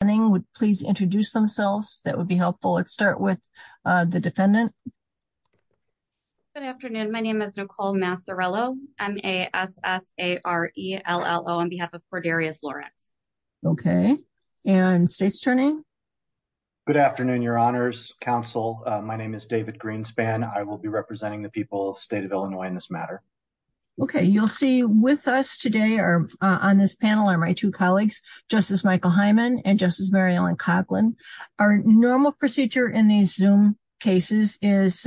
turning would please introduce themselves. That would be helpful. Let's start with the defendant. Good afternoon. My name is Nicole Massarello. I'm a s s a r e l l o on behalf of Cordarius Lawrence. Okay, and state's turning. Good afternoon, your honors counsel. My name is David Greenspan. I will be representing the people of state of Illinois in this matter. Okay, you'll see with us today are on this panel are my two colleagues, Justice Michael Hyman and Justice Mary Ellen Coughlin. Our normal procedure in these zoom cases is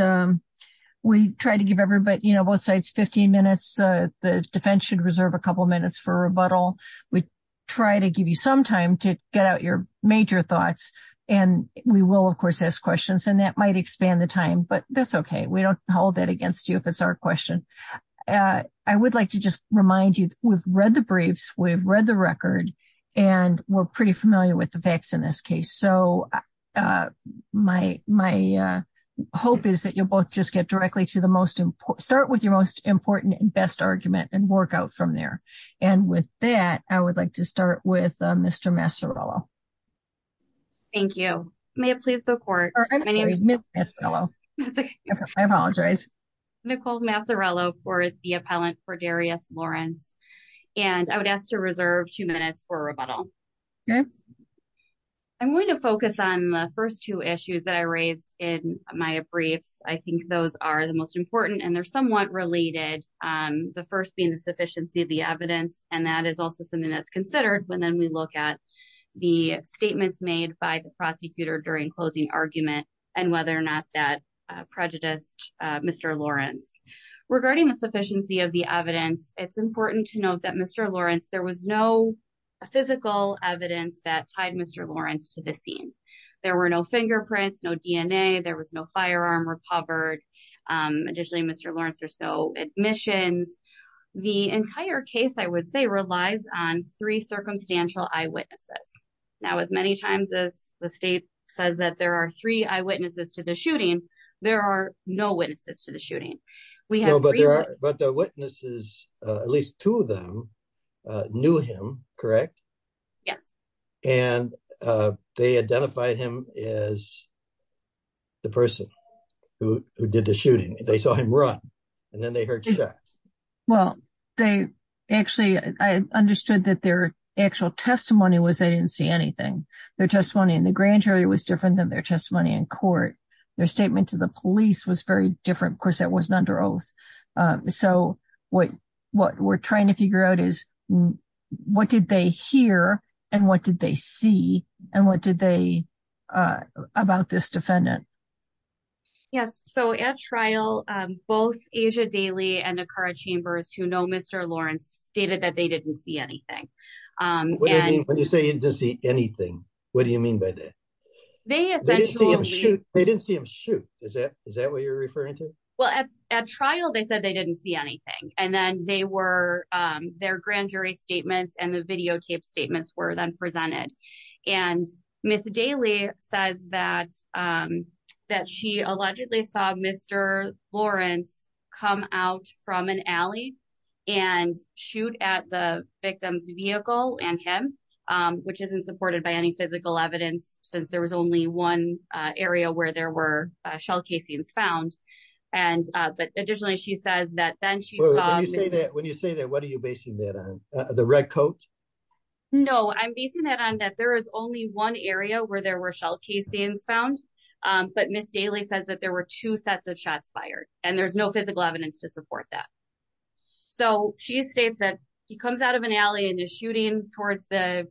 we try to give everybody you know, both sides 15 minutes, the defense should reserve a couple minutes for rebuttal. We try to give you some time to get out your major thoughts. And we will of course, ask questions and that might expand the time but that's okay. We don't hold that against you. If it's our question. I would like to just remind you, we've read the briefs, we've read the record. And we're pretty familiar with the facts in this case. So my my hope is that you'll both just get directly to the most important start with your most important and best argument and work out from there. And with that, I would like to start with Mr. Massarello. Thank you. May it please the court. I apologize. Nicole Massarello for the appellant for Darius Lawrence. And I would ask to reserve two minutes for rebuttal. Okay. I'm going to focus on the first two issues that I raised in my briefs. I think those are the most important and they're somewhat related. The first being the sufficiency of the evidence. And that is also something that's considered when then we look at the statements made by the prosecutor during closing argument, and whether or not that prejudiced Mr. Lawrence. Regarding the sufficiency of the evidence, it's important to note that Mr. Lawrence, there was no physical evidence that tied Mr. Lawrence to the scene. There were no fingerprints, no DNA, there was no firearm recovered. Additionally, Mr. Lawrence, there's no admissions. The entire case, I would say relies on three circumstantial eyewitnesses. Now, as many times the state says that there are three eyewitnesses to the shooting, there are no witnesses to the shooting. But the witnesses, at least two of them, knew him, correct? Yes. And they identified him as the person who did the shooting. They saw him run, and then they heard shots. Well, they actually, I understood that their actual testimony was they didn't see anything. Their testimony in the grand jury was different than their testimony in court. Their statement to the police was very different. Of course, that wasn't under oath. So what we're trying to figure out is what did they hear? And what did they see? And what did they, about this defendant? Yes. So at trial, both Asia Daly and Akara Chambers, who know Mr. Lawrence, stated that they didn't see anything. What do you mean when you say you didn't see anything? What do you mean by that? They essentially- They didn't see him shoot. Is that what you're referring to? Well, at trial, they said they didn't see anything. And then they were, their grand jury statements and the videotape statements were then presented. And Ms. Daly says that she allegedly saw Mr. Lawrence come out from an alley and shoot at the victim's vehicle and him, which isn't supported by any physical evidence since there was only one area where there were shell casings found. But additionally, she says that then she saw- When you say that, what are you basing that on? The red coat? No, I'm basing that on that there is only one area where there were shell casings found, but Ms. Daly says that there were two sets of shots fired and there's no physical evidence to support that. So she states that he comes out of an alley and is shooting towards the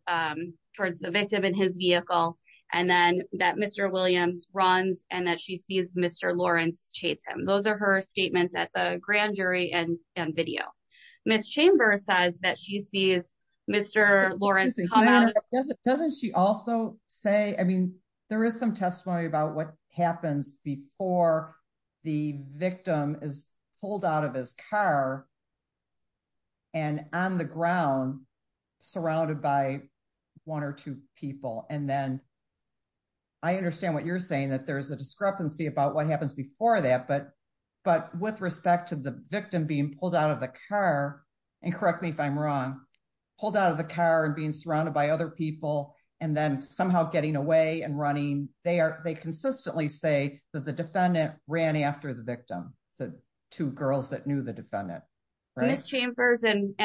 victim in his vehicle, and then that Mr. Williams runs and that she sees Mr. Lawrence chase him. Those are her statements at the grand jury and video. Ms. Chambers says that she sees Mr. Lawrence come out- Doesn't she also say, I mean, there is some testimony about what happens before the victim is pulled out of his car and on the ground surrounded by one or two people. And then I understand what you're saying, that there's a discrepancy about what happens before that, but with respect to the victim being pulled out of the car, and correct me if I'm wrong, pulled out of the car and being surrounded by other people, and then somehow getting away and running, they consistently say that the defendant ran after the victim, the two girls that knew the defendant. Ms. Chambers and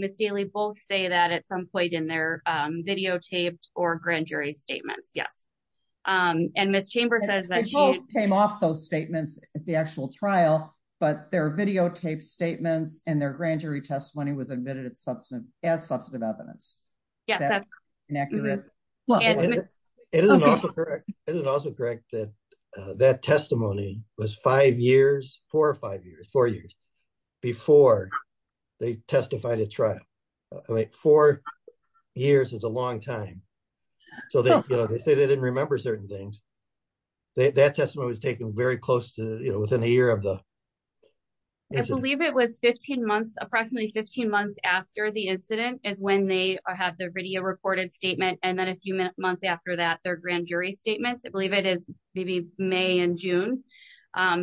Ms. Daly both say that at some point in their videotaped or grand jury statements, yes. And Ms. Chambers says that she- They both came off those statements at the actual substantive evidence. Yes, that's correct. Is that inaccurate? It is also correct that that testimony was five years, four or five years, four years before they testified at trial. Four years is a long time. So they say they didn't remember certain things. That testimony was taken very close to, within a year of the- I believe it was 15 months, approximately 15 months after the incident is when they have their video recorded statement. And then a few months after that, their grand jury statements, I believe it is maybe May and June.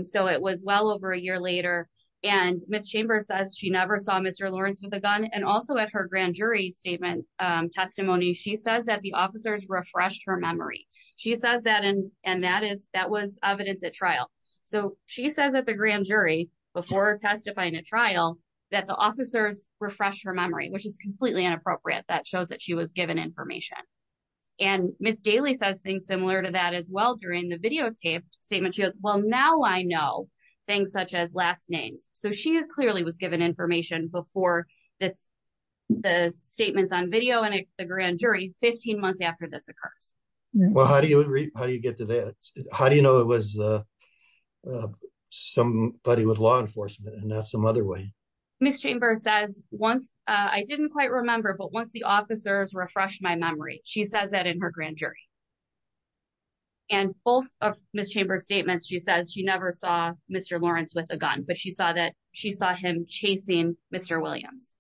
So it was well over a year later. And Ms. Chambers says she never saw Mr. Lawrence with a gun. And also at her grand jury statement testimony, she says that the officers refreshed her memory. She says that, and that was evidence at trial. So she says at the grand jury before testifying at trial, that the officers refreshed her memory, which is completely inappropriate. That shows that she was given information. And Ms. Daly says things similar to that as well during the videotaped statement. She goes, well, now I know things such as last names. So she clearly was given information before this, the statements on video and the grand jury 15 months after this occurs. Well, how do you get to that? How do you know it was somebody with law enforcement and not some other way? Ms. Chambers says once, I didn't quite remember, but once the officers refreshed my memory, she says that in her grand jury. And both of Ms. Chambers' statements, she says she never saw Mr. Lawrence with a gun, but she saw him chasing Mr. Williams.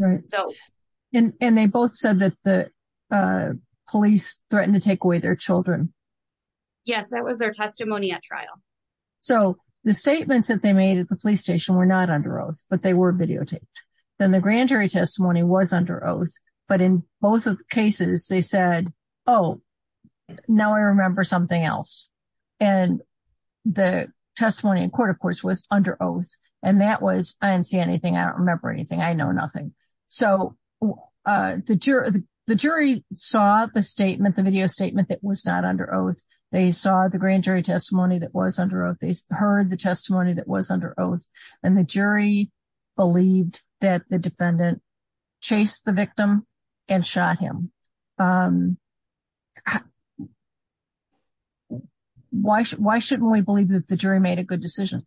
And they both said that the police threatened to take away their children. Yes, that was their testimony at trial. So the statements that they made at the police station were not under oath, but they were videotaped. Then the grand jury testimony was under oath. But in both of the cases, they said, oh, now I remember something else. And the testimony in court, of course, was under oath. And that was, I didn't see anything. I don't remember anything. I know nothing. So the jury saw the statement, the video statement that was not under oath. They saw the grand jury testimony that was under oath. They heard the testimony that was under oath. And the jury believed that the defendant chased the victim and shot him. Why shouldn't we believe that the jury made a good decision?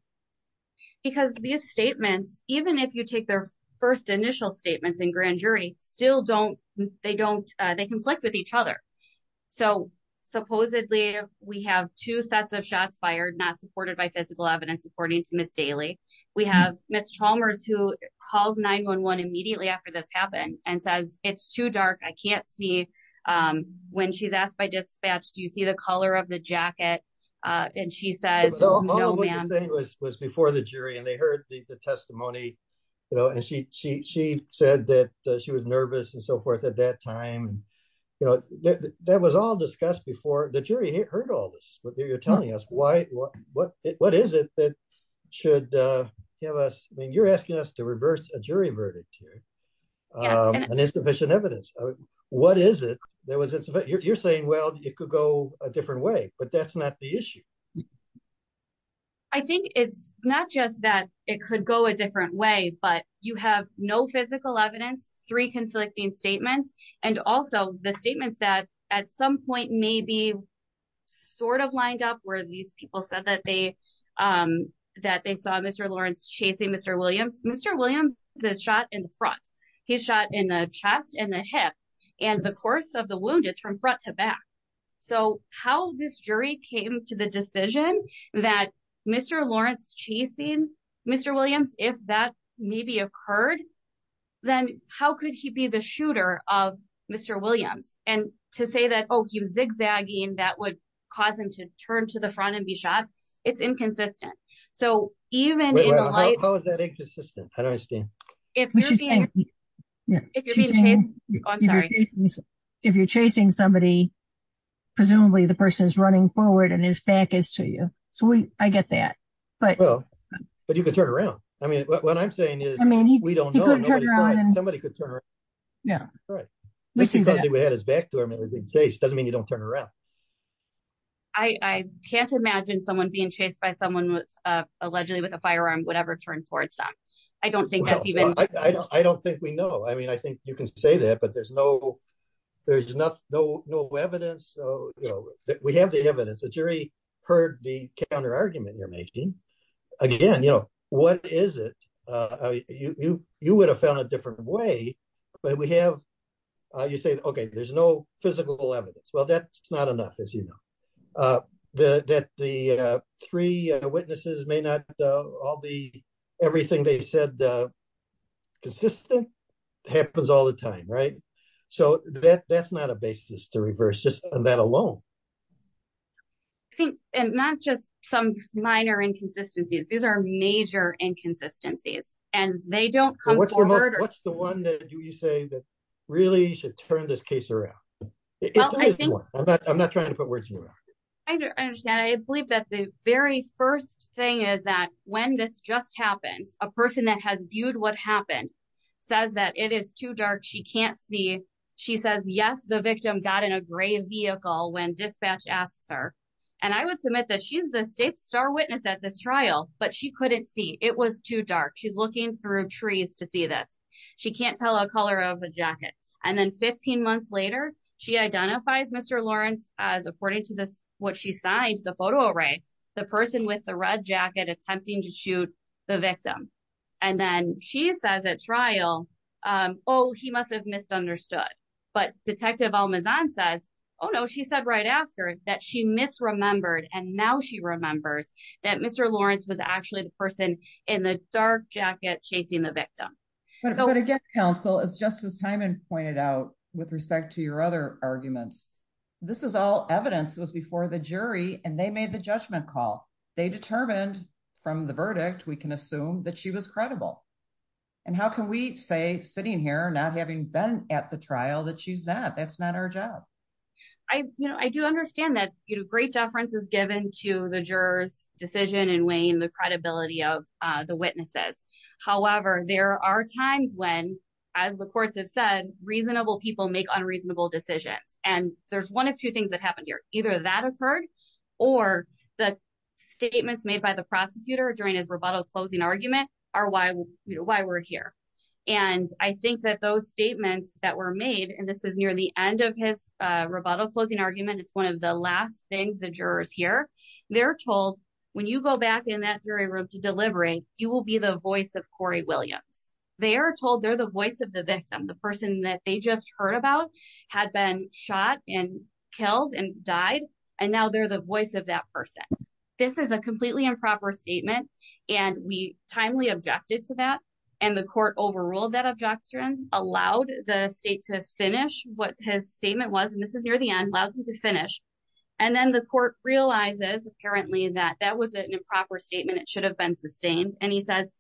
Because these statements, even if you take their first initial statements in grand jury, still don't, they conflict with each other. So supposedly we have two sets of shots fired, not supported by physical evidence, according to Ms. Daly. We have Ms. Chalmers who calls 911 immediately after this happened and says, it's too dark. I can't see. When she's asked by dispatch, do you see the color of the jacket? And she says, no, ma'am. So all of what you're saying was before the jury and they heard the testimony, and she said that she was nervous and so forth at that time. That was all discussed before, the jury heard all this. But you're telling us, what is it that should give us, I mean, you're asking us to reverse a jury verdict here and insufficient evidence. What is it that was a different way? But that's not the issue. I think it's not just that it could go a different way, but you have no physical evidence, three conflicting statements. And also the statements that at some point maybe sort of lined up where these people said that they saw Mr. Lawrence chasing Mr. Williams. Mr. Williams is shot in the front. He's shot in the chest and the hip. And the course of the wound is from front to back. So how this jury came to the decision that Mr. Lawrence chasing Mr. Williams, if that maybe occurred, then how could he be the shooter of Mr. Williams? And to say that, oh, he was zigzagging that would cause him to turn to the If you're chasing somebody, presumably the person is running forward and his back is to you. So I get that. But you could turn around. I mean, what I'm saying is, I mean, we don't know. Somebody could turn around. Yeah, right. We see that we had his back to him. It doesn't mean you don't turn around. I can't imagine someone being chased by someone allegedly with a firearm, whatever turned towards that. I don't think that's even I don't think we know. I mean, I think you can say that, but there's no, there's no evidence that we have the evidence that jury heard the counter argument you're making. Again, you know, what is it? You would have found a different way. But we have you say, okay, there's no physical evidence. Well, that's not enough, you know, that the three witnesses may not all be everything they said. Consistent happens all the time, right? So that that's not a basis to reverse just that alone. I think and not just some minor inconsistencies. These are major inconsistencies, and they don't what's the one that you say that really should turn this case around? Well, I think I'm not trying to put words in your mouth. I understand. I believe that the very first thing is that when this just happens, a person that has viewed what happened, says that it is too dark. She can't see. She says yes, the victim got in a gray vehicle when dispatch asks her and I would submit that she's the state star witness at this trial, but she couldn't see it was too dark. She's looking through trees to see this. She can't tell a color of a jacket. And then 15 months later, she identifies Mr. Lawrence as according to this, what she signed the photo array, the person with the red jacket attempting to shoot the victim. And then she says at trial, oh, he must have misunderstood. But Detective Almazan says, Oh, no, she said right after that she misremembered and now she remembers that Mr. Lawrence was actually the person in the with respect to your other arguments. This is all evidence that was before the jury and they made the judgment call. They determined from the verdict, we can assume that she was credible. And how can we say sitting here, not having been at the trial that she's not, that's not our job. I, you know, I do understand that, you know, great deference is given to the jurors decision in weighing the credibility of the witnesses. However, there are times when, as the courts have reasonable people make unreasonable decisions. And there's one of two things that happened here. Either that occurred or the statements made by the prosecutor during his rebuttal closing argument are why we're here. And I think that those statements that were made, and this is near the end of his rebuttal closing argument. It's one of the last things the jurors hear. They're told when you go back in that jury room to delivering, you will be the voice of victim. The person that they just heard about had been shot and killed and died. And now they're the voice of that person. This is a completely improper statement. And we timely objected to that. And the court overruled that objection, allowed the state to finish what his statement was. And this is near the end, allows him to finish. And then the court realizes apparently that that was an improper statement. It should have been sustained. And he says,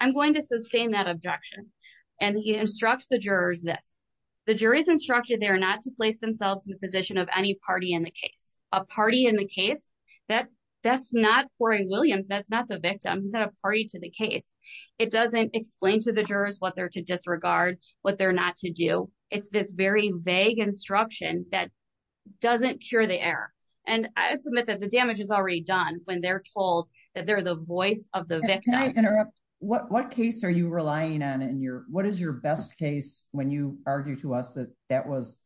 I'm going to sustain that objection. And he instructs the jurors this. The jury's instructed they are not to place themselves in the position of any party in the case. A party in the case? That's not Corey Williams. That's not the victim. He's not a party to the case. It doesn't explain to the jurors what they're to disregard, what they're not to do. It's this very vague instruction that doesn't cure the error. And I would submit that the damage is already done when they're told that they're the voice of the victim. Can I interrupt? What case are you relying on? What is your best case when you argue to us that that was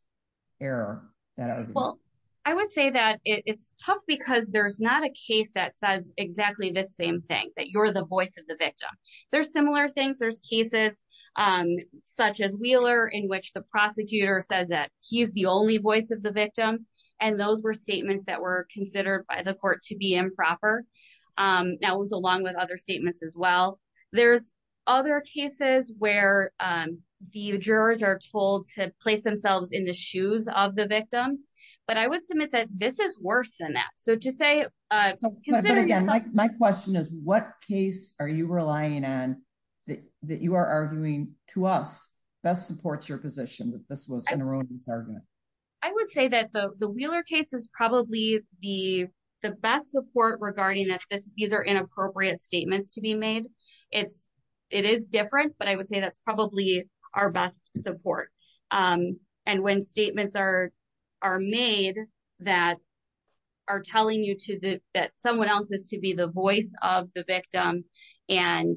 error? Well, I would say that it's tough because there's not a case that says exactly the same thing, that you're the voice of the victim. There's similar things. There's cases such as Wheeler in which the prosecutor says that he's the only voice of the victim. And those were statements that were considered by the court to improper. That was along with other statements as well. There's other cases where the jurors are told to place themselves in the shoes of the victim. But I would submit that this is worse than that. So to say... But again, my question is, what case are you relying on that you are arguing to us best supports your position that this was an erroneous argument? I would say that the support regarding that these are inappropriate statements to be made, it is different, but I would say that's probably our best support. And when statements are made that are telling you that someone else is to be the voice of the victim and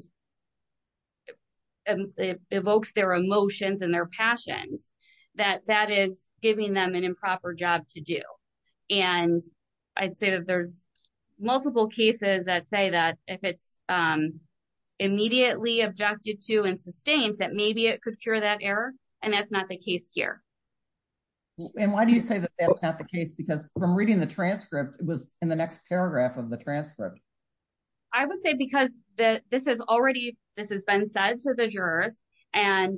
evokes their emotions and their passions, that is giving them an improper job to do. And I'd say that there's multiple cases that say that if it's immediately objected to and sustained, that maybe it could cure that error. And that's not the case here. And why do you say that that's not the case? Because from reading the transcript, it was in the next paragraph of the transcript. I would say because this has been said to the jurors and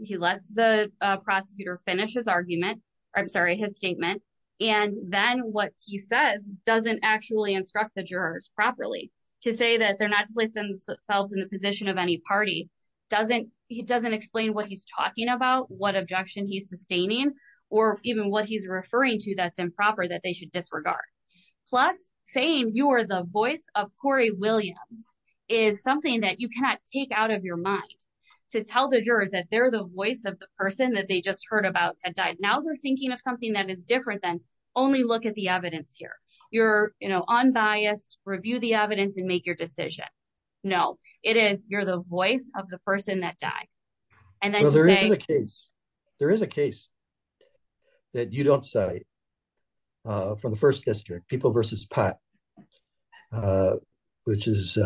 he lets the prosecutor finish his argument, I'm sorry, his statement. And then what he says doesn't actually instruct the jurors properly to say that they're not to place themselves in the position of any party. It doesn't explain what he's talking about, what objection he's sustaining, or even what he's referring to that's improper that they should disregard. Plus saying you are the voice of Corey Williams is something that you cannot take out of your mind to tell the jurors that they're the voice of the person that they just heard about that died. Now they're thinking of something that is different than only look at the evidence here. You're, you know, unbiased, review the evidence and make your decision. No, it is, you're the voice of the person that died. And there is a case, there is a case that you don't say from the first district, people versus pot, which is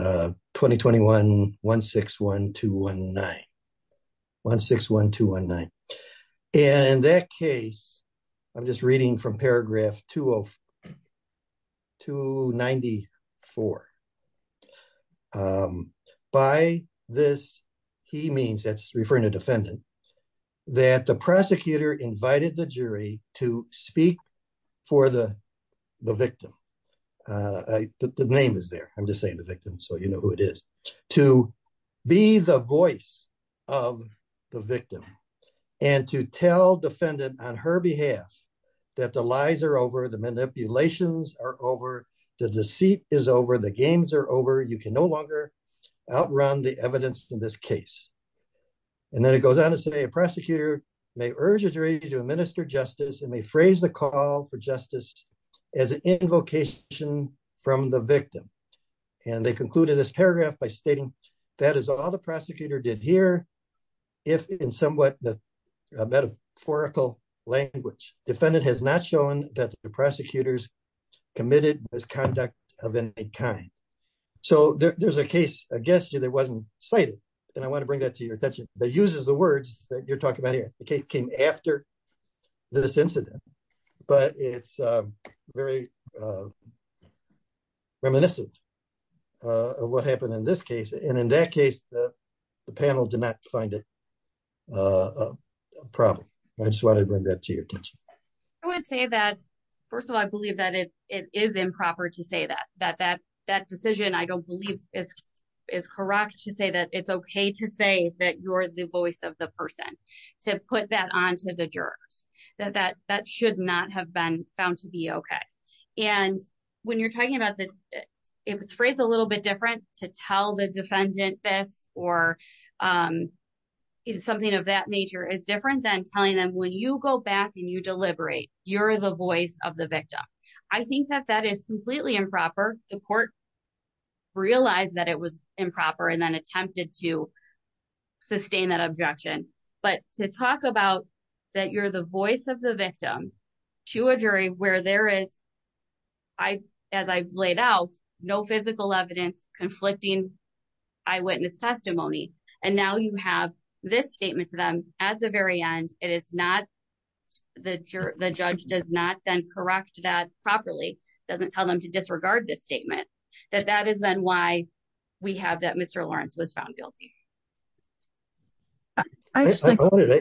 2021-161-219, 161-219. And that case, I'm just reading from paragraph 294. By this, he means, that's referring to defendant, that the prosecutor invited the jury to speak for the victim. The name is there, I'm just saying the victim so you know who it is. To be the voice of the victim and to tell defendant on her behalf that the lies are over, the manipulations are over, the deceit is over, the games are over. You can no longer outrun the evidence in this case. And then it goes on to say, a prosecutor may urge a jury to administer justice and may phrase the call for justice as an invocation from the victim. And they concluded this paragraph by stating, that is all the prosecutor did here, if in somewhat metaphorical language. Defendant has not shown that the prosecutors committed misconduct of any kind. So there's a case, I guess, that wasn't cited. And I want to bring that to your attention, that uses the words that you're talking about here. The case after this incident, but it's very reminiscent of what happened in this case. And in that case, the panel did not find it a problem. I just wanted to bring that to your attention. I would say that, first of all, I believe that it is improper to say that, that that decision, I don't believe is correct to say that it's okay to say that you're the voice of the person. To put that onto the jurors, that that should not have been found to be okay. And when you're talking about that, it was phrased a little bit different to tell the defendant this or something of that nature is different than telling them when you go back and you deliberate, you're the voice of the victim. I think that that is completely improper. The court realized that it was improper and then attempted to sustain that objection. But to talk about that you're the voice of the victim to a jury where there is, as I've laid out, no physical evidence conflicting eyewitness testimony. And now you have this statement to them at the very end, it is not, the judge does not then correct that properly, doesn't tell them to disregard this statement, that that is then why we have that Mr. Lawrence was found guilty. I just wanted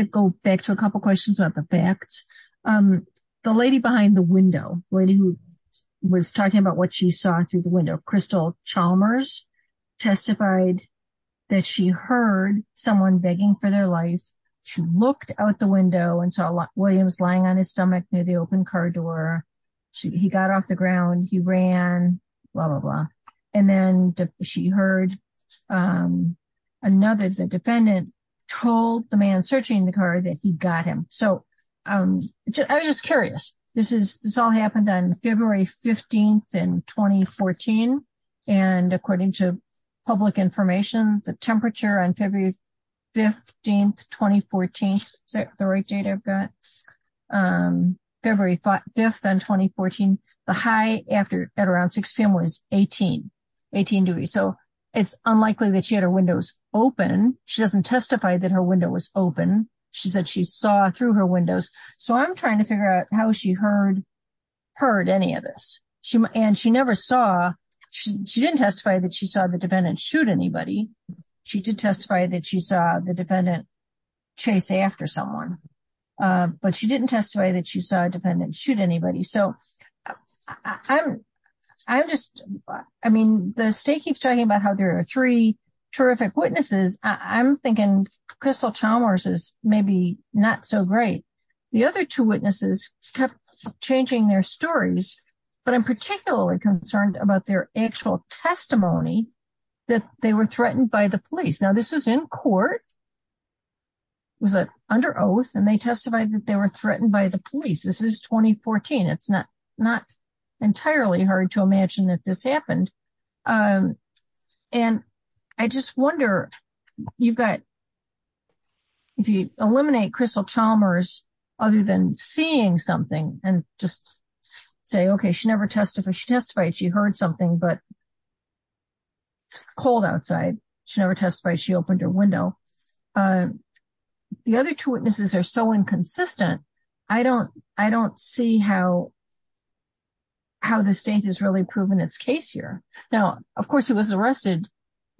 to go back to a couple of questions about the facts. The lady behind the window, lady who was talking about what she saw through the window, Crystal Chalmers testified that she heard someone begging for their life. She looked out the window and saw Williams lying on his stomach near the open car door. He got off the ground, he ran, blah, blah, blah. And then she heard another, the defendant, told the man searching the car that he got him. So I was just curious. This all happened on February 15th in 2014. And according to public information, the temperature on February 15th, 2014, is that the right date I've got? February 5th on 2014, the high after at around 6 p.m. was 18 degrees. So it's unlikely that she had her windows open. She doesn't testify that her window was open. She said she saw through her windows. So I'm trying to figure out how she heard any of this. And she never saw, she didn't testify that she did testify that she saw the defendant chase after someone. But she didn't testify that she saw a defendant shoot anybody. So I'm just, I mean, the state keeps talking about how there are three terrific witnesses. I'm thinking Crystal Chalmers is maybe not so great. The other two witnesses kept changing their stories, but I'm particularly concerned about their actual testimony that they were threatened by the police. Now this was in court, was it under oath, and they testified that they were threatened by the police. This is 2014. It's not entirely hard to imagine that this happened. And I just wonder, you've got, if you eliminate Crystal Chalmers, other than seeing something and just say, okay, she never testified, she testified she heard something, but she never testified she opened her window. The other two witnesses are so inconsistent. I don't see how the state has really proven its case here. Now, of course, it was arrested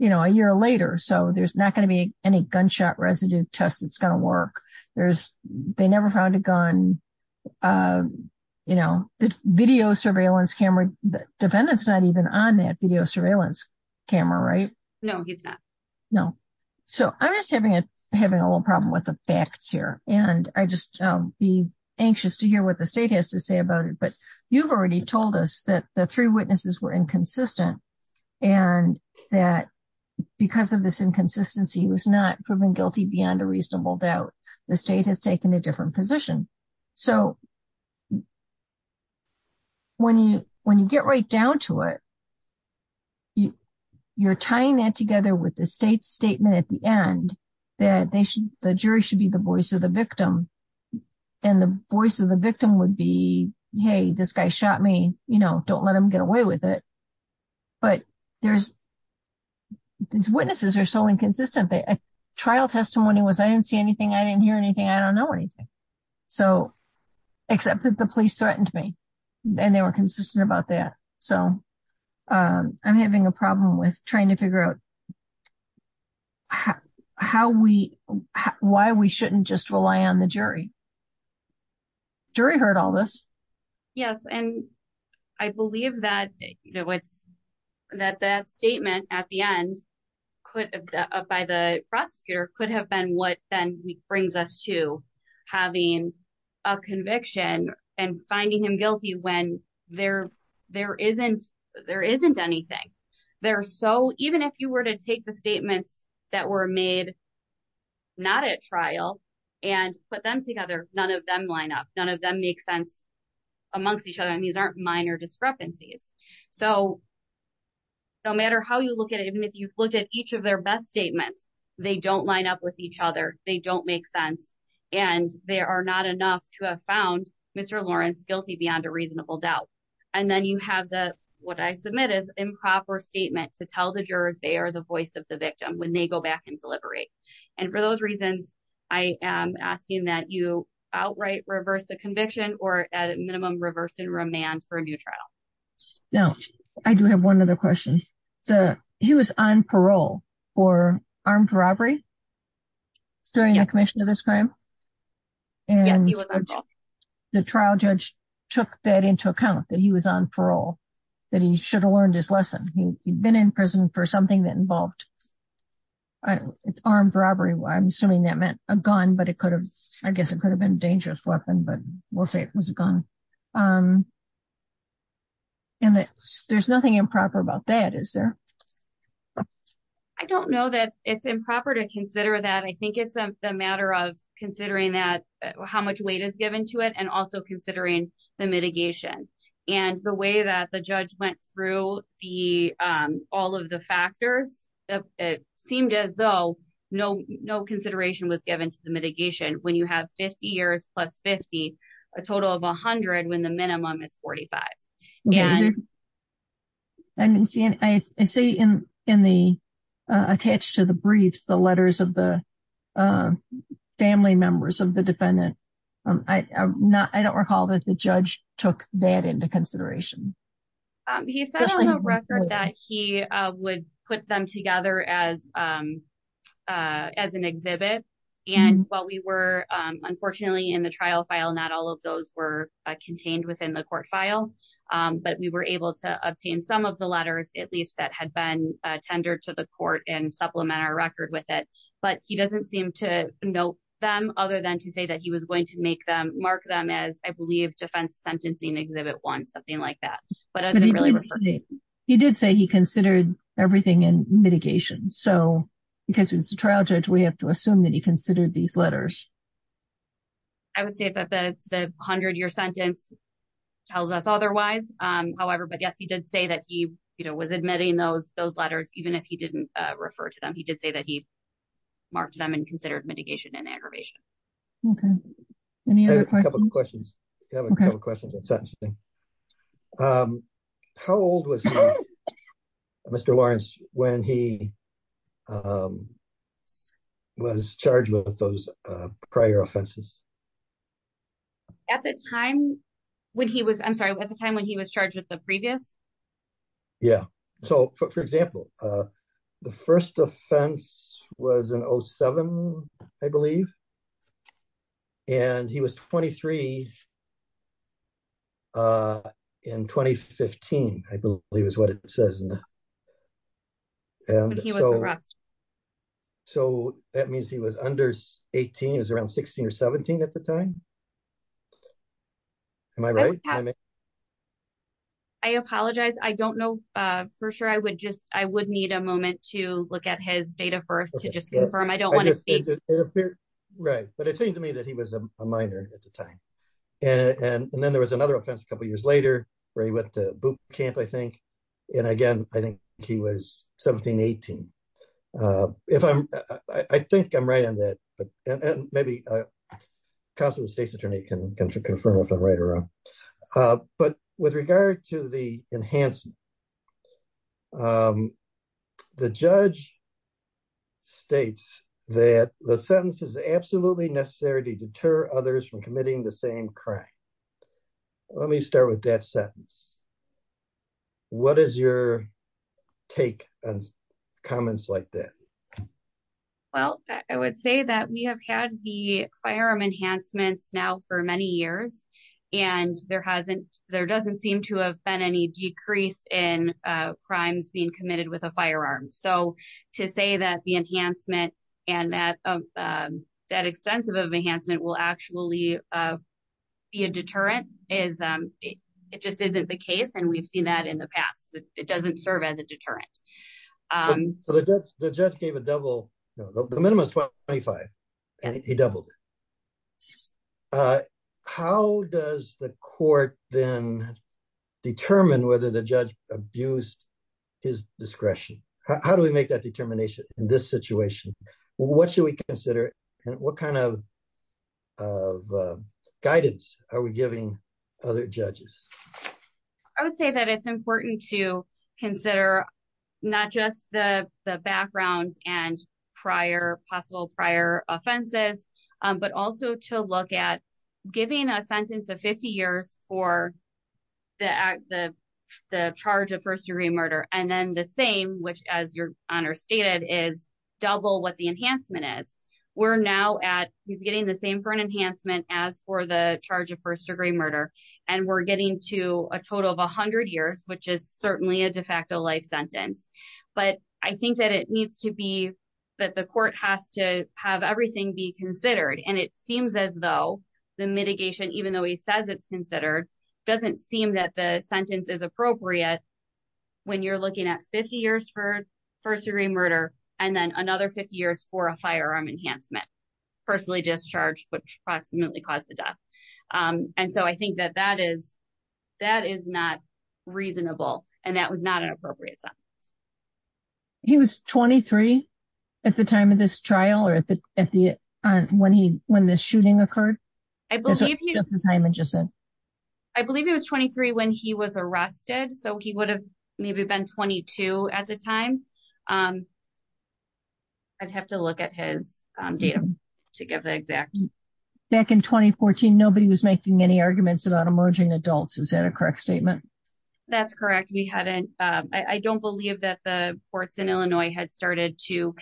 a year later. So there's not going to be any gunshot residue test that's going to work. There's, they never found a gun. The video surveillance camera, the defendant's not even on that video surveillance camera, right? No, he's not. No. So I'm just having a little problem with the facts here. And I just be anxious to hear what the state has to say about it. But you've already told us that the three witnesses were inconsistent. And that because of this inconsistency was not proven guilty beyond a reasonable doubt, the state has taken a different position. So when you get right down to it, you're tying that together with the state's statement at the end, that they should, the jury should be the voice of the victim. And the voice of the victim would be, hey, this guy shot me, you know, don't let them get away with it. But there's, these witnesses are so inconsistent. The trial testimony was, I didn't see anything. I didn't hear anything. I don't know anything. So, except that the police threatened me. And they were consistent about that. So I'm having a problem with trying to figure out how we, why we shouldn't just rely on the jury. Jury heard all this. Yes. And I believe that, you know, it's, that that statement at the end could, by the prosecutor could have been what then brings us to having a conviction and finding him guilty when there, there isn't, there isn't anything there. So even if you were to take the statements that were made, not at trial and put them together, none of them line up, none of them make sense amongst each other. And these aren't minor discrepancies. So no matter how you look at it, even if you look at each of their best statements, they don't line up with each other. They don't make sense. And there are not enough to have found Mr. Lawrence guilty beyond a reasonable doubt. And then you have the, what I submit is improper statement to tell the jurors, they are the voice of the victim when they go back and deliberate. And for those reasons, I am asking that you outright reverse the conviction or at minimum reverse and remand for a new trial. Now, I do have one other question. So he was on parole for armed robbery during the commission of this crime. And the trial judge took that into account that he was on parole, that he should have learned his lesson. He'd been in prison for something that involved armed robbery. I'm assuming that meant a gun, but it could have, I guess it could have been a dangerous weapon, but we'll say it was a gun. And that there's nothing improper about that, is there? I don't know that it's improper to consider that. I think it's a matter of considering that how much weight is given to it and also considering the mitigation and the way that the judge went through all of the factors. It seemed as though no consideration was given to the mitigation when you have 50 years plus 50, a total of a hundred when the minimum is 45. I didn't see, I see in the attached to the briefs, the letters of the family members of the defendant. I don't recall that the judge took that into consideration. He said on the record that he would put them together as an exhibit. And while we were, unfortunately in the trial file, not all of those were contained within the court file, but we were able to obtain some of the letters, at least that had been tendered to the court and supplement our record with it. But he doesn't seem to note them other than to say that he was going to mark them as, I believe defense sentencing exhibit one, something like that. He did say he considered everything in mitigation. So because it was a trial judge, we have to assume that he considered these letters. I would say that the hundred year sentence tells us otherwise. However, but yes, he did say that he was admitting those letters, even if he didn't refer to them. He did have a couple of questions. How old was Mr. Lawrence when he was charged with those prior offenses? At the time when he was, I'm sorry, at the time when he was charged with the previous. Yeah. So for example, the first offense was in 07, I believe, and he was 23 in 2015, I believe is what it says. So that means he was under 18, he was around 16 or 17 at the time. I apologize. I don't know for sure. I would just, I would need a moment to look at his date of birth to just confirm. I don't want to speak. Right. But it seemed to me that he was a minor at the time. And then there was another offense a couple of years later where he went to boot camp, I think. And again, I think he was 17, 18. If I'm, I think I'm right on that, but maybe a constable state's attorney can confirm if I'm right or wrong. But with regard to the enhancement, the judge states that the sentence is absolutely necessary to deter others from committing the crime. Let me start with that sentence. What is your take on comments like that? Well, I would say that we have had the firearm enhancements now for many years, and there hasn't, there doesn't seem to have been any decrease in crimes being committed with a firearm. So the deterrent is, it just isn't the case. And we've seen that in the past, it doesn't serve as a deterrent. So the judge gave a double, no, the minimum is 25. He doubled it. How does the court then determine whether the judge abused his discretion? How do we make that determination in this situation? What should we consider and what kind of guidance are we giving other judges? I would say that it's important to consider not just the background and possible prior offenses, but also to look at giving a sentence of 50 years for the charge of first degree murder. And then the same, which as your honor stated is double what the enhancement is. We're now at, he's getting the same for an enhancement as for the charge of first degree murder. And we're getting to a total of a hundred years, which is certainly a de facto life sentence. But I think that it needs to be that the court has to have everything be considered. And it seems as though the mitigation, even though he says it's considered, doesn't seem that the 50 years for first degree murder, and then another 50 years for a firearm enhancement, personally discharged, which approximately caused the death. And so I think that that is, that is not reasonable. And that was not an appropriate sentence. He was 23 at the time of this trial or at the, at the, when he, when the shooting occurred, I believe he was 23 when he was arrested. So he would have maybe been 22 at the time. I'd have to look at his data to give the exact. Back in 2014, nobody was making any arguments about emerging adults. Is that a correct statement? That's correct. We hadn't, I don't believe that the courts in Illinois had started to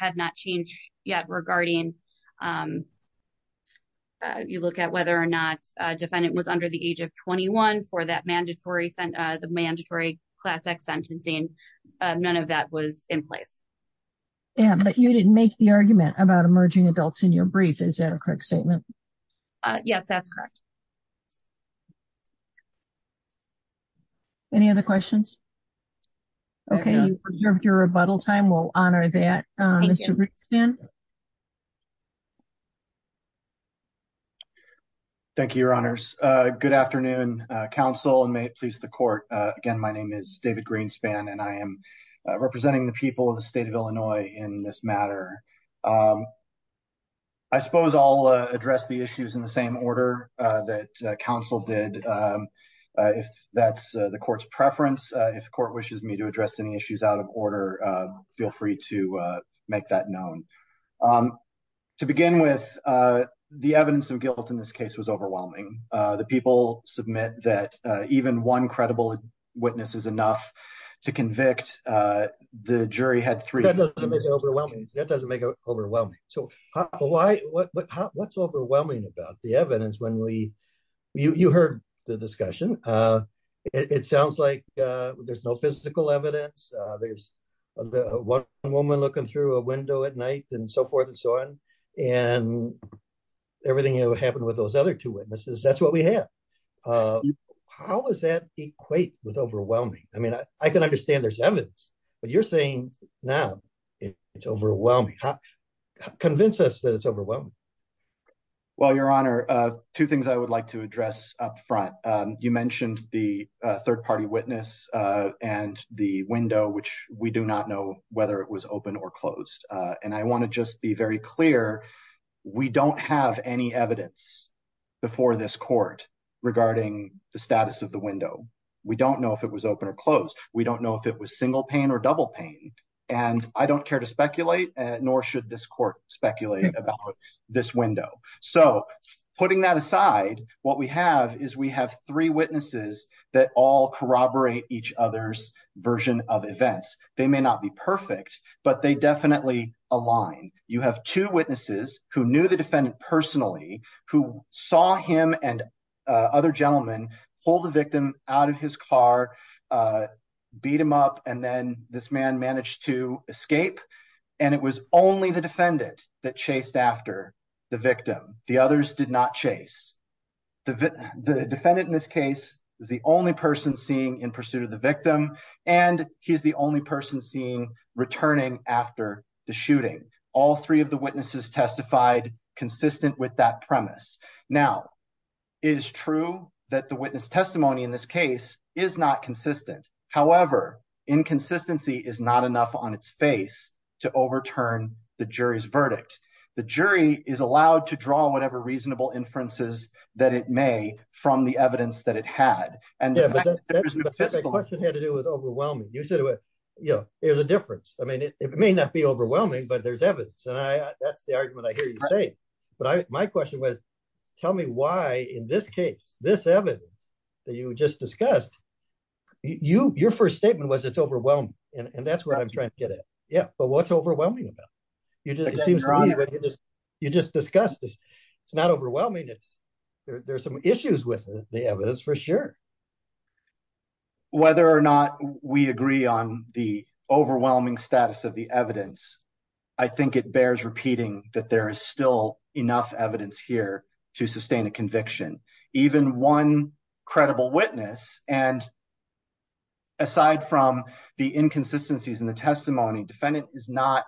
had not changed yet regarding you look at whether or not a defendant was under the age of 21 for that mandatory sent the mandatory class X sentencing. None of that was in place. Yeah, but you didn't make the argument about emerging adults in your brief. Is that a correct statement? Yes, that's correct. Okay. Any other questions? Okay. Your rebuttal time. We'll honor that. Thank you, your honors. Good afternoon council and may it please the court. Again, my name is David Greenspan and I am representing the people of the state of Illinois in this matter. I suppose I'll address the issues in the same order that council did. If that's the court's preference, if the court wishes me to address any issues out of order, feel free to make that known. To begin with the evidence of guilt in this case was overwhelming. The people submit that even one overwhelming. So why, what's overwhelming about the evidence when we, you heard the discussion. It sounds like there's no physical evidence. There's one woman looking through a window at night and so forth and so on. And everything that happened with those other two witnesses, that's what we have. How does that equate with overwhelming? I mean, I can understand there's evidence, but you're saying now it's overwhelming. Convince us that it's overwhelming. Well, your honor, two things I would like to address up front. You mentioned the third party witness and the window, which we do not know whether it was open or closed. And I want to just be very clear. We don't have any evidence before this court regarding the status of the double pain. And I don't care to speculate, nor should this court speculate about this window. So putting that aside, what we have is we have three witnesses that all corroborate each other's version of events. They may not be perfect, but they definitely align. You have two witnesses who knew the defendant personally, who saw him and other gentlemen pull the victim out of his car, uh, beat him up. And then this man managed to escape and it was only the defendant that chased after the victim. The others did not chase the V the defendant in this case is the only person seeing in pursuit of the victim. And he's the only person seeing returning after the shooting. All three of the witnesses testified consistent with that premise. Now is true that the witness testimony in this case is not consistent. However, inconsistency is not enough on its face to overturn the jury's verdict. The jury is allowed to draw whatever reasonable inferences that it may from the evidence that it had. And the question had to do with overwhelming. You said, you know, it was a difference. I mean, it may not be overwhelming, but there's evidence. And I, that's the argument I hear you say, but I, my question was, tell me why in this case, this evidence that you just discussed you, your first statement was it's overwhelming. And that's where I'm trying to get at. Yeah. But what's overwhelming about you just, it seems to me that you just, you just discussed this. It's not overwhelming. It's there. There's some issues with the evidence for sure. Whether or not we agree on the overwhelming status of the evidence, I think it bears repeating that there is still enough evidence here to sustain a conviction, even one credible witness. And aside from the inconsistencies in the testimony, defendant is not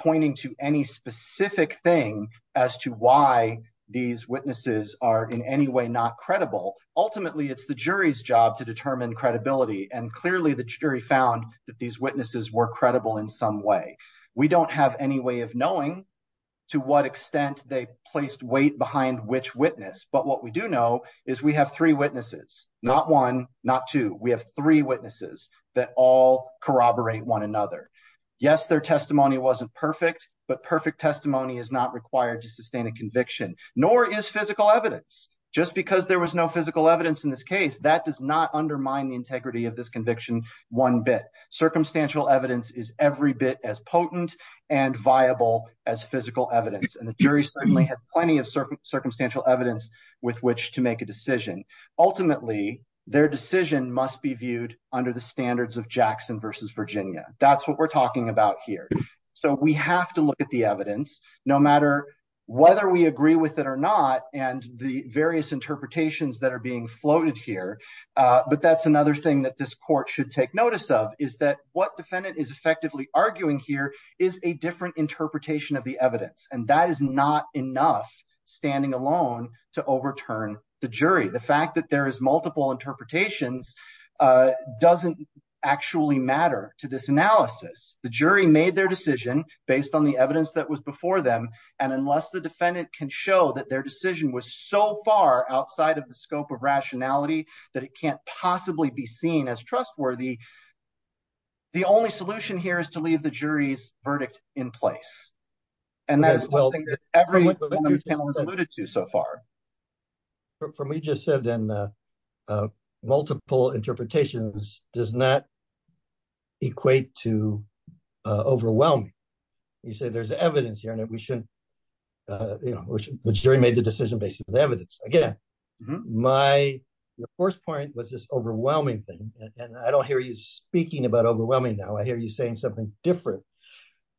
pointing to any specific thing as to why these witnesses are in any way, not credible. Ultimately, it's the jury's job to determine credibility. And clearly the jury found that these witnesses were credible in some way. We don't have any way of knowing to what extent they placed weight behind which witness. But what we do know is we have three witnesses, not one, not two. We have three witnesses that all corroborate one another. Yes, their testimony wasn't perfect, but perfect testimony is not required to sustain a conviction, nor is physical evidence just because there was no physical evidence in this case that does not undermine the integrity of this conviction. One bit circumstantial evidence is every bit as potent and viable as physical evidence. And the with which to make a decision. Ultimately, their decision must be viewed under the standards of Jackson versus Virginia. That's what we're talking about here. So we have to look at the evidence, no matter whether we agree with it or not, and the various interpretations that are being floated here. But that's another thing that this court should take notice of is that what defendant is effectively arguing here is a different interpretation of the evidence. And that is not enough standing alone to overturn the jury. The fact that there is multiple interpretations doesn't actually matter to this analysis. The jury made their decision based on the evidence that was before them. And unless the defendant can show that their decision was so far outside of the scope of rationality that it can't possibly be seen as trustworthy. The only alluded to so far. For me, just said in multiple interpretations does not equate to overwhelming. You say there's evidence here and we shouldn't. The jury made the decision based on evidence. Again, my first point was this overwhelming thing. And I don't hear you speaking about overwhelming. Now I hear you saying something different.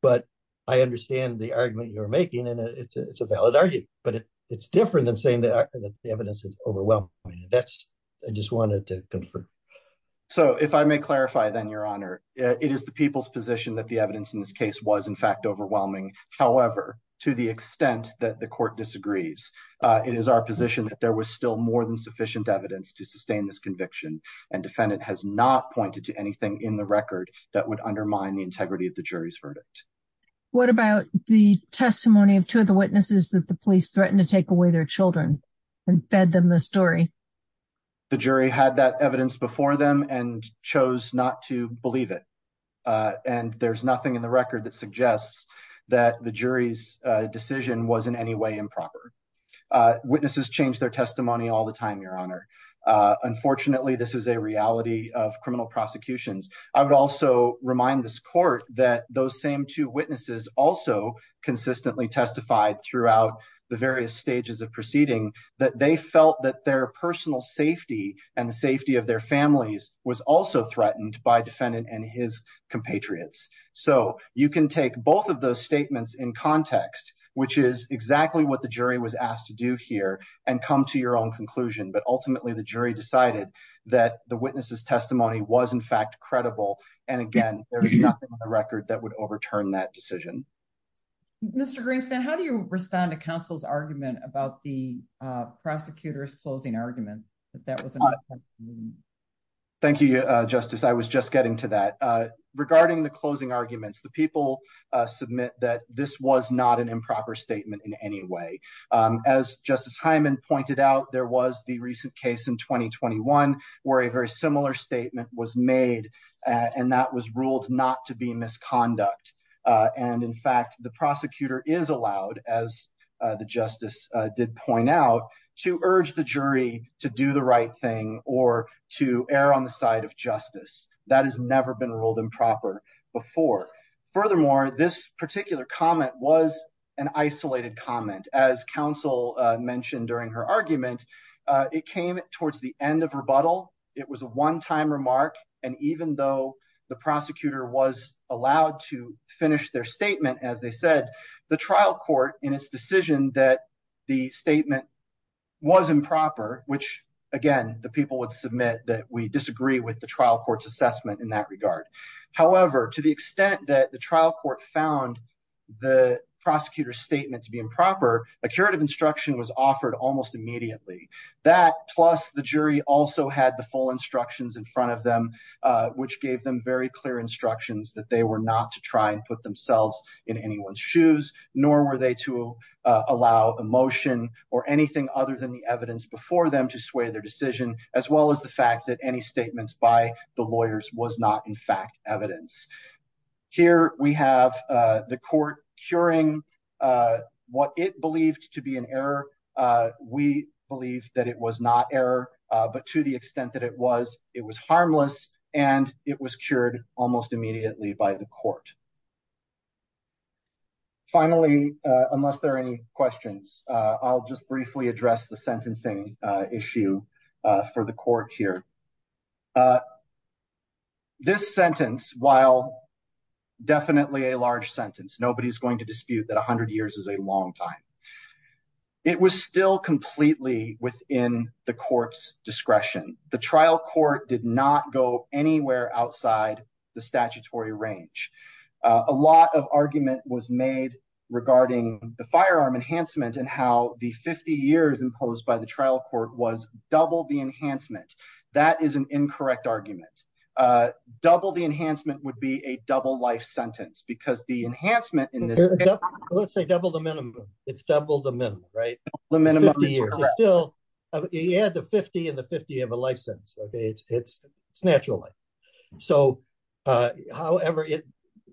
But I understand the argument you're making, and it's a valid argument, but it's different than saying that the evidence is overwhelming. And that's I just wanted to confirm. So if I may clarify, then your honor, it is the people's position that the evidence in this case was in fact overwhelming. However, to the extent that the court disagrees, it is our position that there was still more than sufficient evidence to sustain this conviction. And defendant has not pointed to anything in the record that would undermine the integrity of the jury's verdict. What about the testimony of two of the witnesses that the police threatened to take away their children and fed them the story? The jury had that evidence before them and chose not to believe it. And there's nothing in the record that suggests that the jury's decision was in any way improper. Witnesses change their testimony all the time, your honor. Unfortunately, this is a reality of criminal prosecutions. I would also remind this court that those same two witnesses also consistently testified throughout the various stages of proceeding, that they felt that their personal safety and the safety of their families was also threatened by defendant and his compatriots. So you can take both of those statements in context, which is exactly what the jury was asked to do here and come to your own conclusion. But ultimately, the jury decided that the and again, there was nothing on the record that would overturn that decision. Mr. Greenspan, how do you respond to counsel's argument about the prosecutor's closing argument? Thank you, Justice. I was just getting to that. Regarding the closing arguments, the people submit that this was not an improper statement in any way. As Justice Hyman pointed out, there was the recent case in 2021 where a very similar statement was made, and that was ruled not to be misconduct. And in fact, the prosecutor is allowed, as the justice did point out, to urge the jury to do the right thing or to err on the side of justice. That has never been ruled improper before. Furthermore, this particular comment was an isolated comment, as counsel mentioned during her argument. It came towards the end of rebuttal. It was a one-time remark. And even though the prosecutor was allowed to finish their statement, as they said, the trial court in its decision that the statement was improper, which again, the people would submit that we disagree with the trial court's assessment in that regard. However, to the extent that the a curative instruction was offered almost immediately, that plus the jury also had the full instructions in front of them, which gave them very clear instructions that they were not to try and put themselves in anyone's shoes, nor were they to allow emotion or anything other than the evidence before them to sway their decision, as well as the fact that any statements by the to be an error. We believe that it was not error, but to the extent that it was, it was harmless and it was cured almost immediately by the court. Finally, unless there are any questions, I'll just briefly address the sentencing issue for the court here. This sentence, while definitely a large sentence, nobody's going to it was still completely within the court's discretion. The trial court did not go anywhere outside the statutory range. A lot of argument was made regarding the firearm enhancement and how the 50 years imposed by the trial court was double the enhancement. That is an incorrect argument. Double the enhancement would be a double life sentence because the enhancement in this, let's say double the minimum. It's double the minimum, right? You add the 50 and the 50 of a life sentence. It's natural life. However,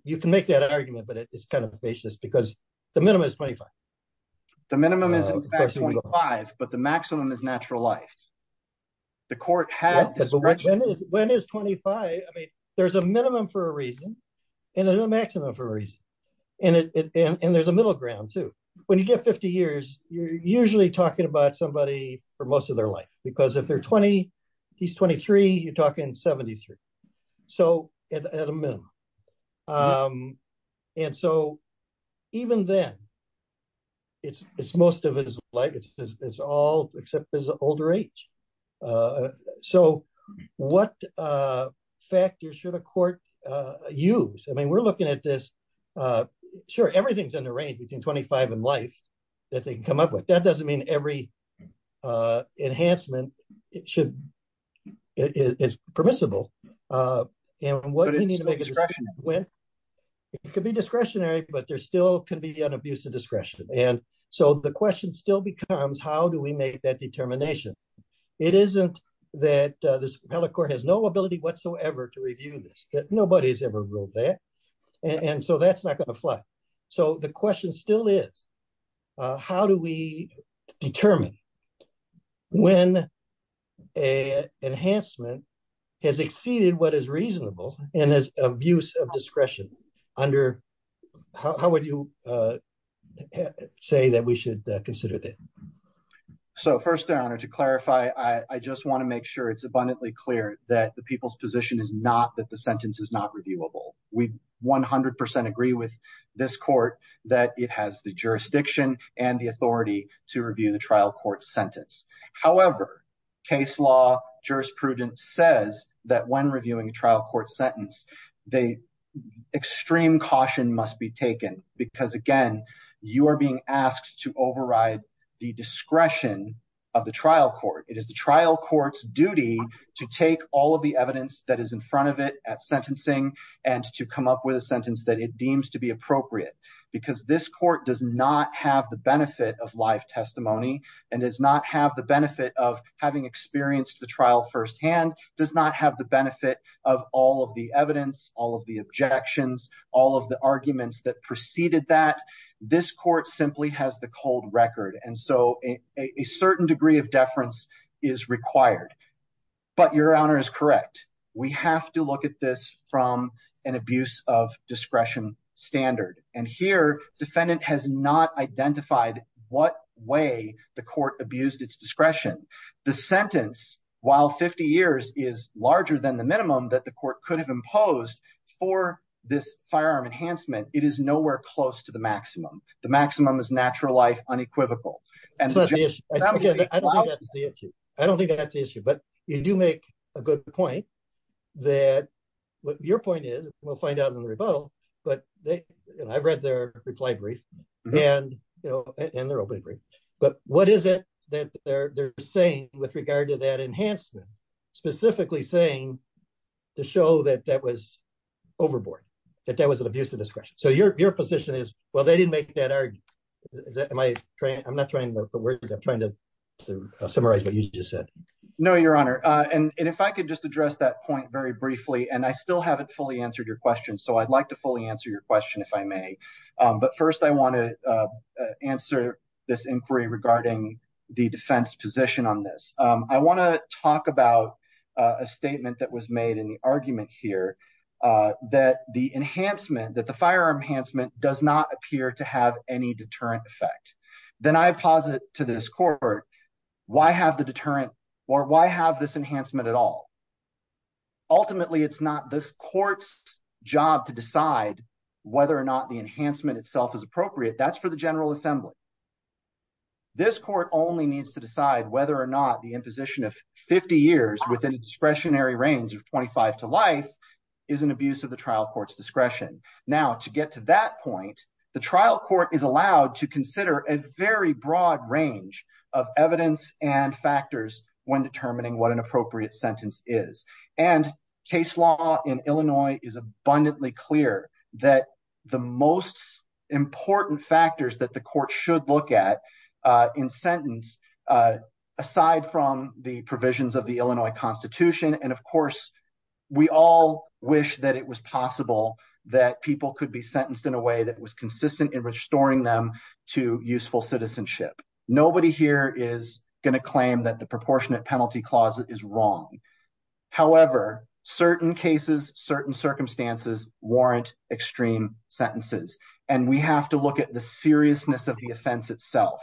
you can make that argument, but it's kind of facious because the minimum is 25. The minimum is in fact 25, but the maximum is natural life. The court had discretion. When is 25? I mean, there's a minimum for a reason and a maximum for a reason. There's a middle ground too. When you get 50 years, you're usually talking about somebody for most of their life because if he's 23, you're talking 73, so at a minimum. Even then, it's most of his life. It's all except his older age. What factors should a we're looking at this? Sure, everything's in the range between 25 and life that they can come up with. That doesn't mean every enhancement is permissible. It could be discretionary, but there still can be an abuse of discretion. The question still becomes how do we make that determination? It isn't that this appellate court has no ability whatsoever to review this. Nobody has ever ruled that, and so that's not going to fly. The question still is how do we determine when an enhancement has exceeded what is reasonable and has abuse of discretion? How would you say that we should consider that? First, Your Honor, to clarify, I just want to it's abundantly clear that the people's position is not that the sentence is not reviewable. We 100% agree with this court that it has the jurisdiction and the authority to review the trial court sentence. However, case law jurisprudence says that when reviewing a trial court sentence, the extreme caution must be taken because, again, you are being asked to override the discretion of the trial court. It is the trial court's duty to take all of the evidence that is in front of it at sentencing and to come up with a sentence that it deems to be appropriate because this court does not have the benefit of live testimony and does not have the benefit of having experienced the trial firsthand, does not have the benefit of all of the evidence, all of the objections, all of the arguments that preceded that. This court simply has the record. And so a certain degree of deference is required. But Your Honor is correct. We have to look at this from an abuse of discretion standard. And here, defendant has not identified what way the court abused its discretion. The sentence, while 50 years is larger than the minimum that the court could have imposed for this firearm enhancement, it is nowhere close to the maximum. The maximum is natural life, unequivocal. I don't think that's the issue. But you do make a good point that what your point is, we'll find out in the rebuttal, but I've read their reply brief and their opening brief. But what is it that they're saying with regard to that enhancement, specifically saying to show that that was overboard, that that was an abuse of discretion? So your position is, well, they didn't make that argument. Am I trying? I'm not trying to summarize what you just said. No, Your Honor. And if I could just address that point very briefly, and I still haven't fully answered your question. So I'd like to fully answer your question, if I may. But first, I want to answer this inquiry regarding the defense position on this. I want to talk about a statement that was made in the argument here that the enhancement that firearm enhancement does not appear to have any deterrent effect. Then I posit to this court, why have the deterrent? Or why have this enhancement at all? Ultimately, it's not this court's job to decide whether or not the enhancement itself is appropriate. That's for the General Assembly. This court only needs to decide whether or not the imposition of 50 years within discretionary range of 25 to life is an abuse of the trial court's discretion. Now, to get to that point, the trial court is allowed to consider a very broad range of evidence and factors when determining what an appropriate sentence is. And case law in Illinois is abundantly clear that the most important factors that the court should look at in sentence, aside from the provisions of the Illinois Constitution. And of course, we all wish that it was possible that people could be sentenced in a way that was consistent in restoring them to useful citizenship. Nobody here is going to claim that the proportionate penalty clause is wrong. However, certain cases, certain circumstances warrant extreme sentences. And we have to look at the seriousness of the offense itself.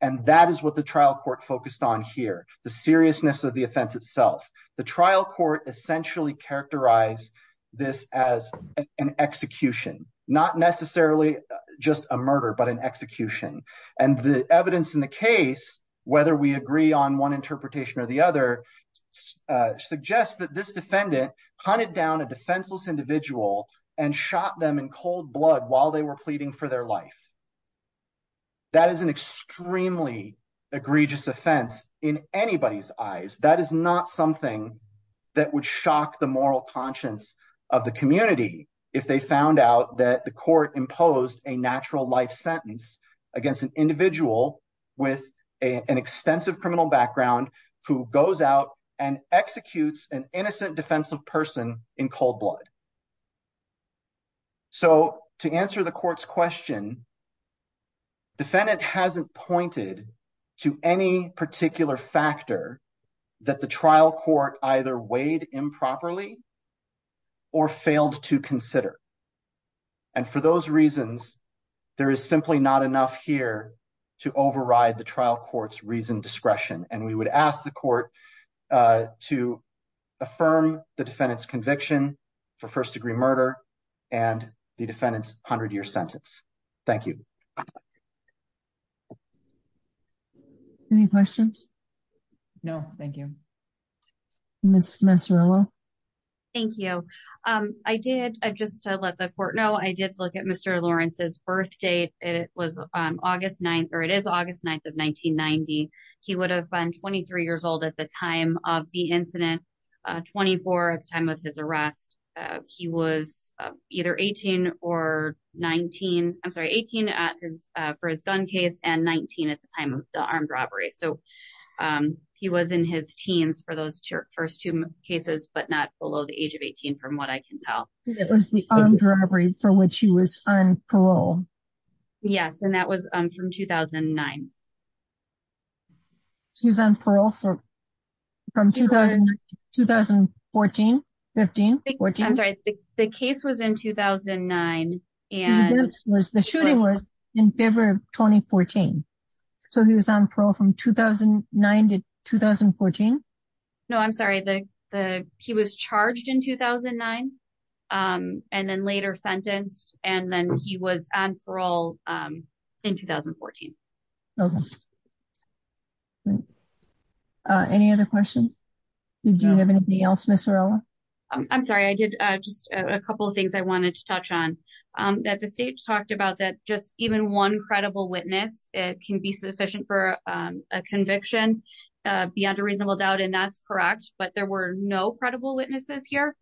And that is what the trial court focused on here, the seriousness of the offense itself. The trial court essentially characterized this as an execution, not necessarily just a murder, but an execution. And the evidence in the case, whether we agree on one interpretation or the other, suggests that this defendant hunted down a defenseless individual and shot them in cold blood while they were pleading for their life. That is an extremely egregious offense in anybody's eyes. That is not something that would shock the moral conscience of the community if they found out that the court imposed a natural life sentence against an individual with an extensive criminal background who goes out and executes an innocent defensive person in cold blood. So to answer the court's question, defendant hasn't pointed to any particular factor that the trial court either weighed improperly or failed to consider. And for those reasons, there is simply not enough here to override the trial court's reasoned discretion. And we would ask the court to affirm the defendant's conviction for first-degree murder and the defendant's hundred-year sentence. Thank you. Any questions? No, thank you. Ms. Mazzarella? Thank you. I did, just to let the court know, I did look at Mr. Lawrence's birth date. It was August 9th, or it is August 9th of 1990. He would have been 23 years old at the time of the incident, 24 at the time of his arrest. He was either 18 or 19, I'm sorry, 18 for his gun case and 19 at the time of the armed robbery. So he was in his teens for those first two cases, but not below the age 18, from what I can tell. It was the armed robbery for which he was on parole. Yes, and that was from 2009. He was on parole from 2014, 15, 14? I'm sorry, the case was in 2009. The shooting was in February of 2014. So he was on parole from 2009 to 2014? No, I'm sorry, he was charged in 2009 and then later sentenced, and then he was on parole in 2014. Any other questions? Do you have anything else, Ms. Mazzarella? I'm sorry, I did just a couple of things that I wanted to touch on. That the state talked about that just even one credible witness, it can be sufficient for a conviction beyond a reasonable doubt, and that's correct, but there were no credible witnesses here.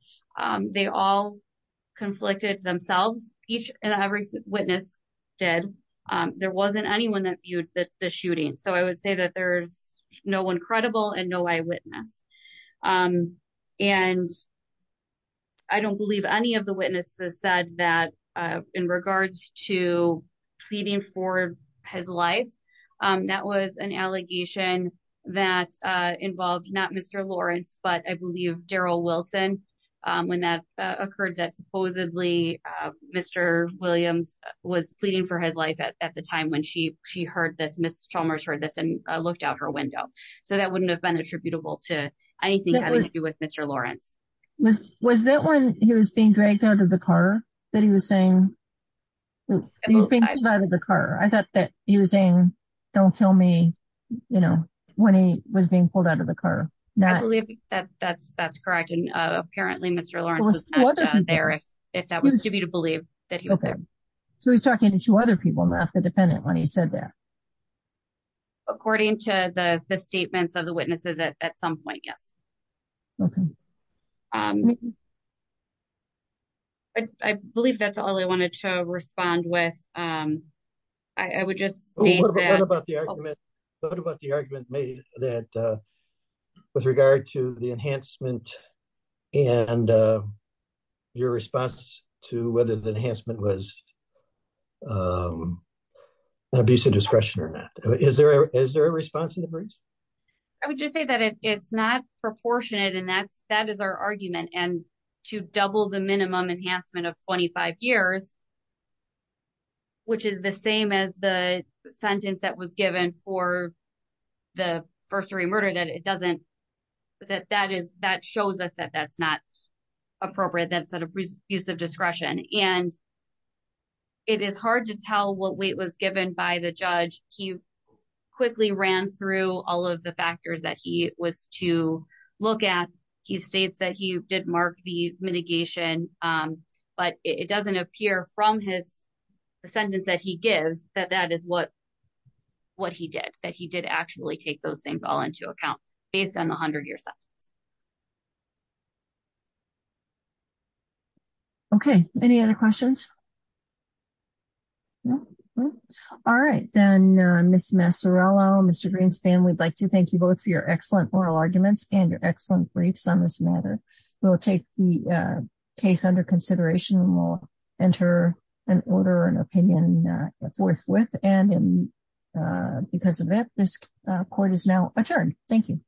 They all conflicted themselves, each and every witness did. There wasn't anyone that viewed the shooting. So I would say that there's no one credible and no eyewitness. And I don't believe any of the witnesses said that in regards to pleading for his life, that was an allegation that involved not Mr. Lawrence, but I believe Daryl Wilson, when that occurred, that supposedly Mr. Williams was pleading for his life at the time when she heard this, Ms. Chalmers heard this, and looked out her window. So that wouldn't have been attributable to anything having to do with Mr. Lawrence. Was that when he was being dragged out of the car that he was saying, he was being pulled out of the car? I thought that he was saying, don't kill me, you know, when he was being pulled out of the car. I believe that's correct, and apparently Mr. Lawrence was tagged down there if that was to be believed that he was there. So he's talking to two other people, not the dependent when he said that. According to the statements of the witnesses at some point, yes. I believe that's all I wanted to respond with. I would just say about the argument made that with regard to the enhancement and your response to whether the enhancement was an abuse of discretion or not. Is there a response in the briefs? I would just say that it's not proportionate, and that is our argument. And to double the minimum enhancement of 25 years, which is the same as the sentence that was given for the first degree murder, that shows us that that's not appropriate. That's an abuse of discretion. And it is hard to tell what weight was given by the judge. He quickly ran through all of the factors that he was to look at. He states that he did mark the mitigation, but it doesn't appear from his sentence that he gives that that is what he did, that he did actually take those things all into account based on the 100-year sentence. Okay. Any other questions? All right. Then Ms. Massarello, Mr. Green's family, I'd like to thank you both for your consideration. We'll enter an order, an opinion forthwith. And because of that, this court is now adjourned. Thank you.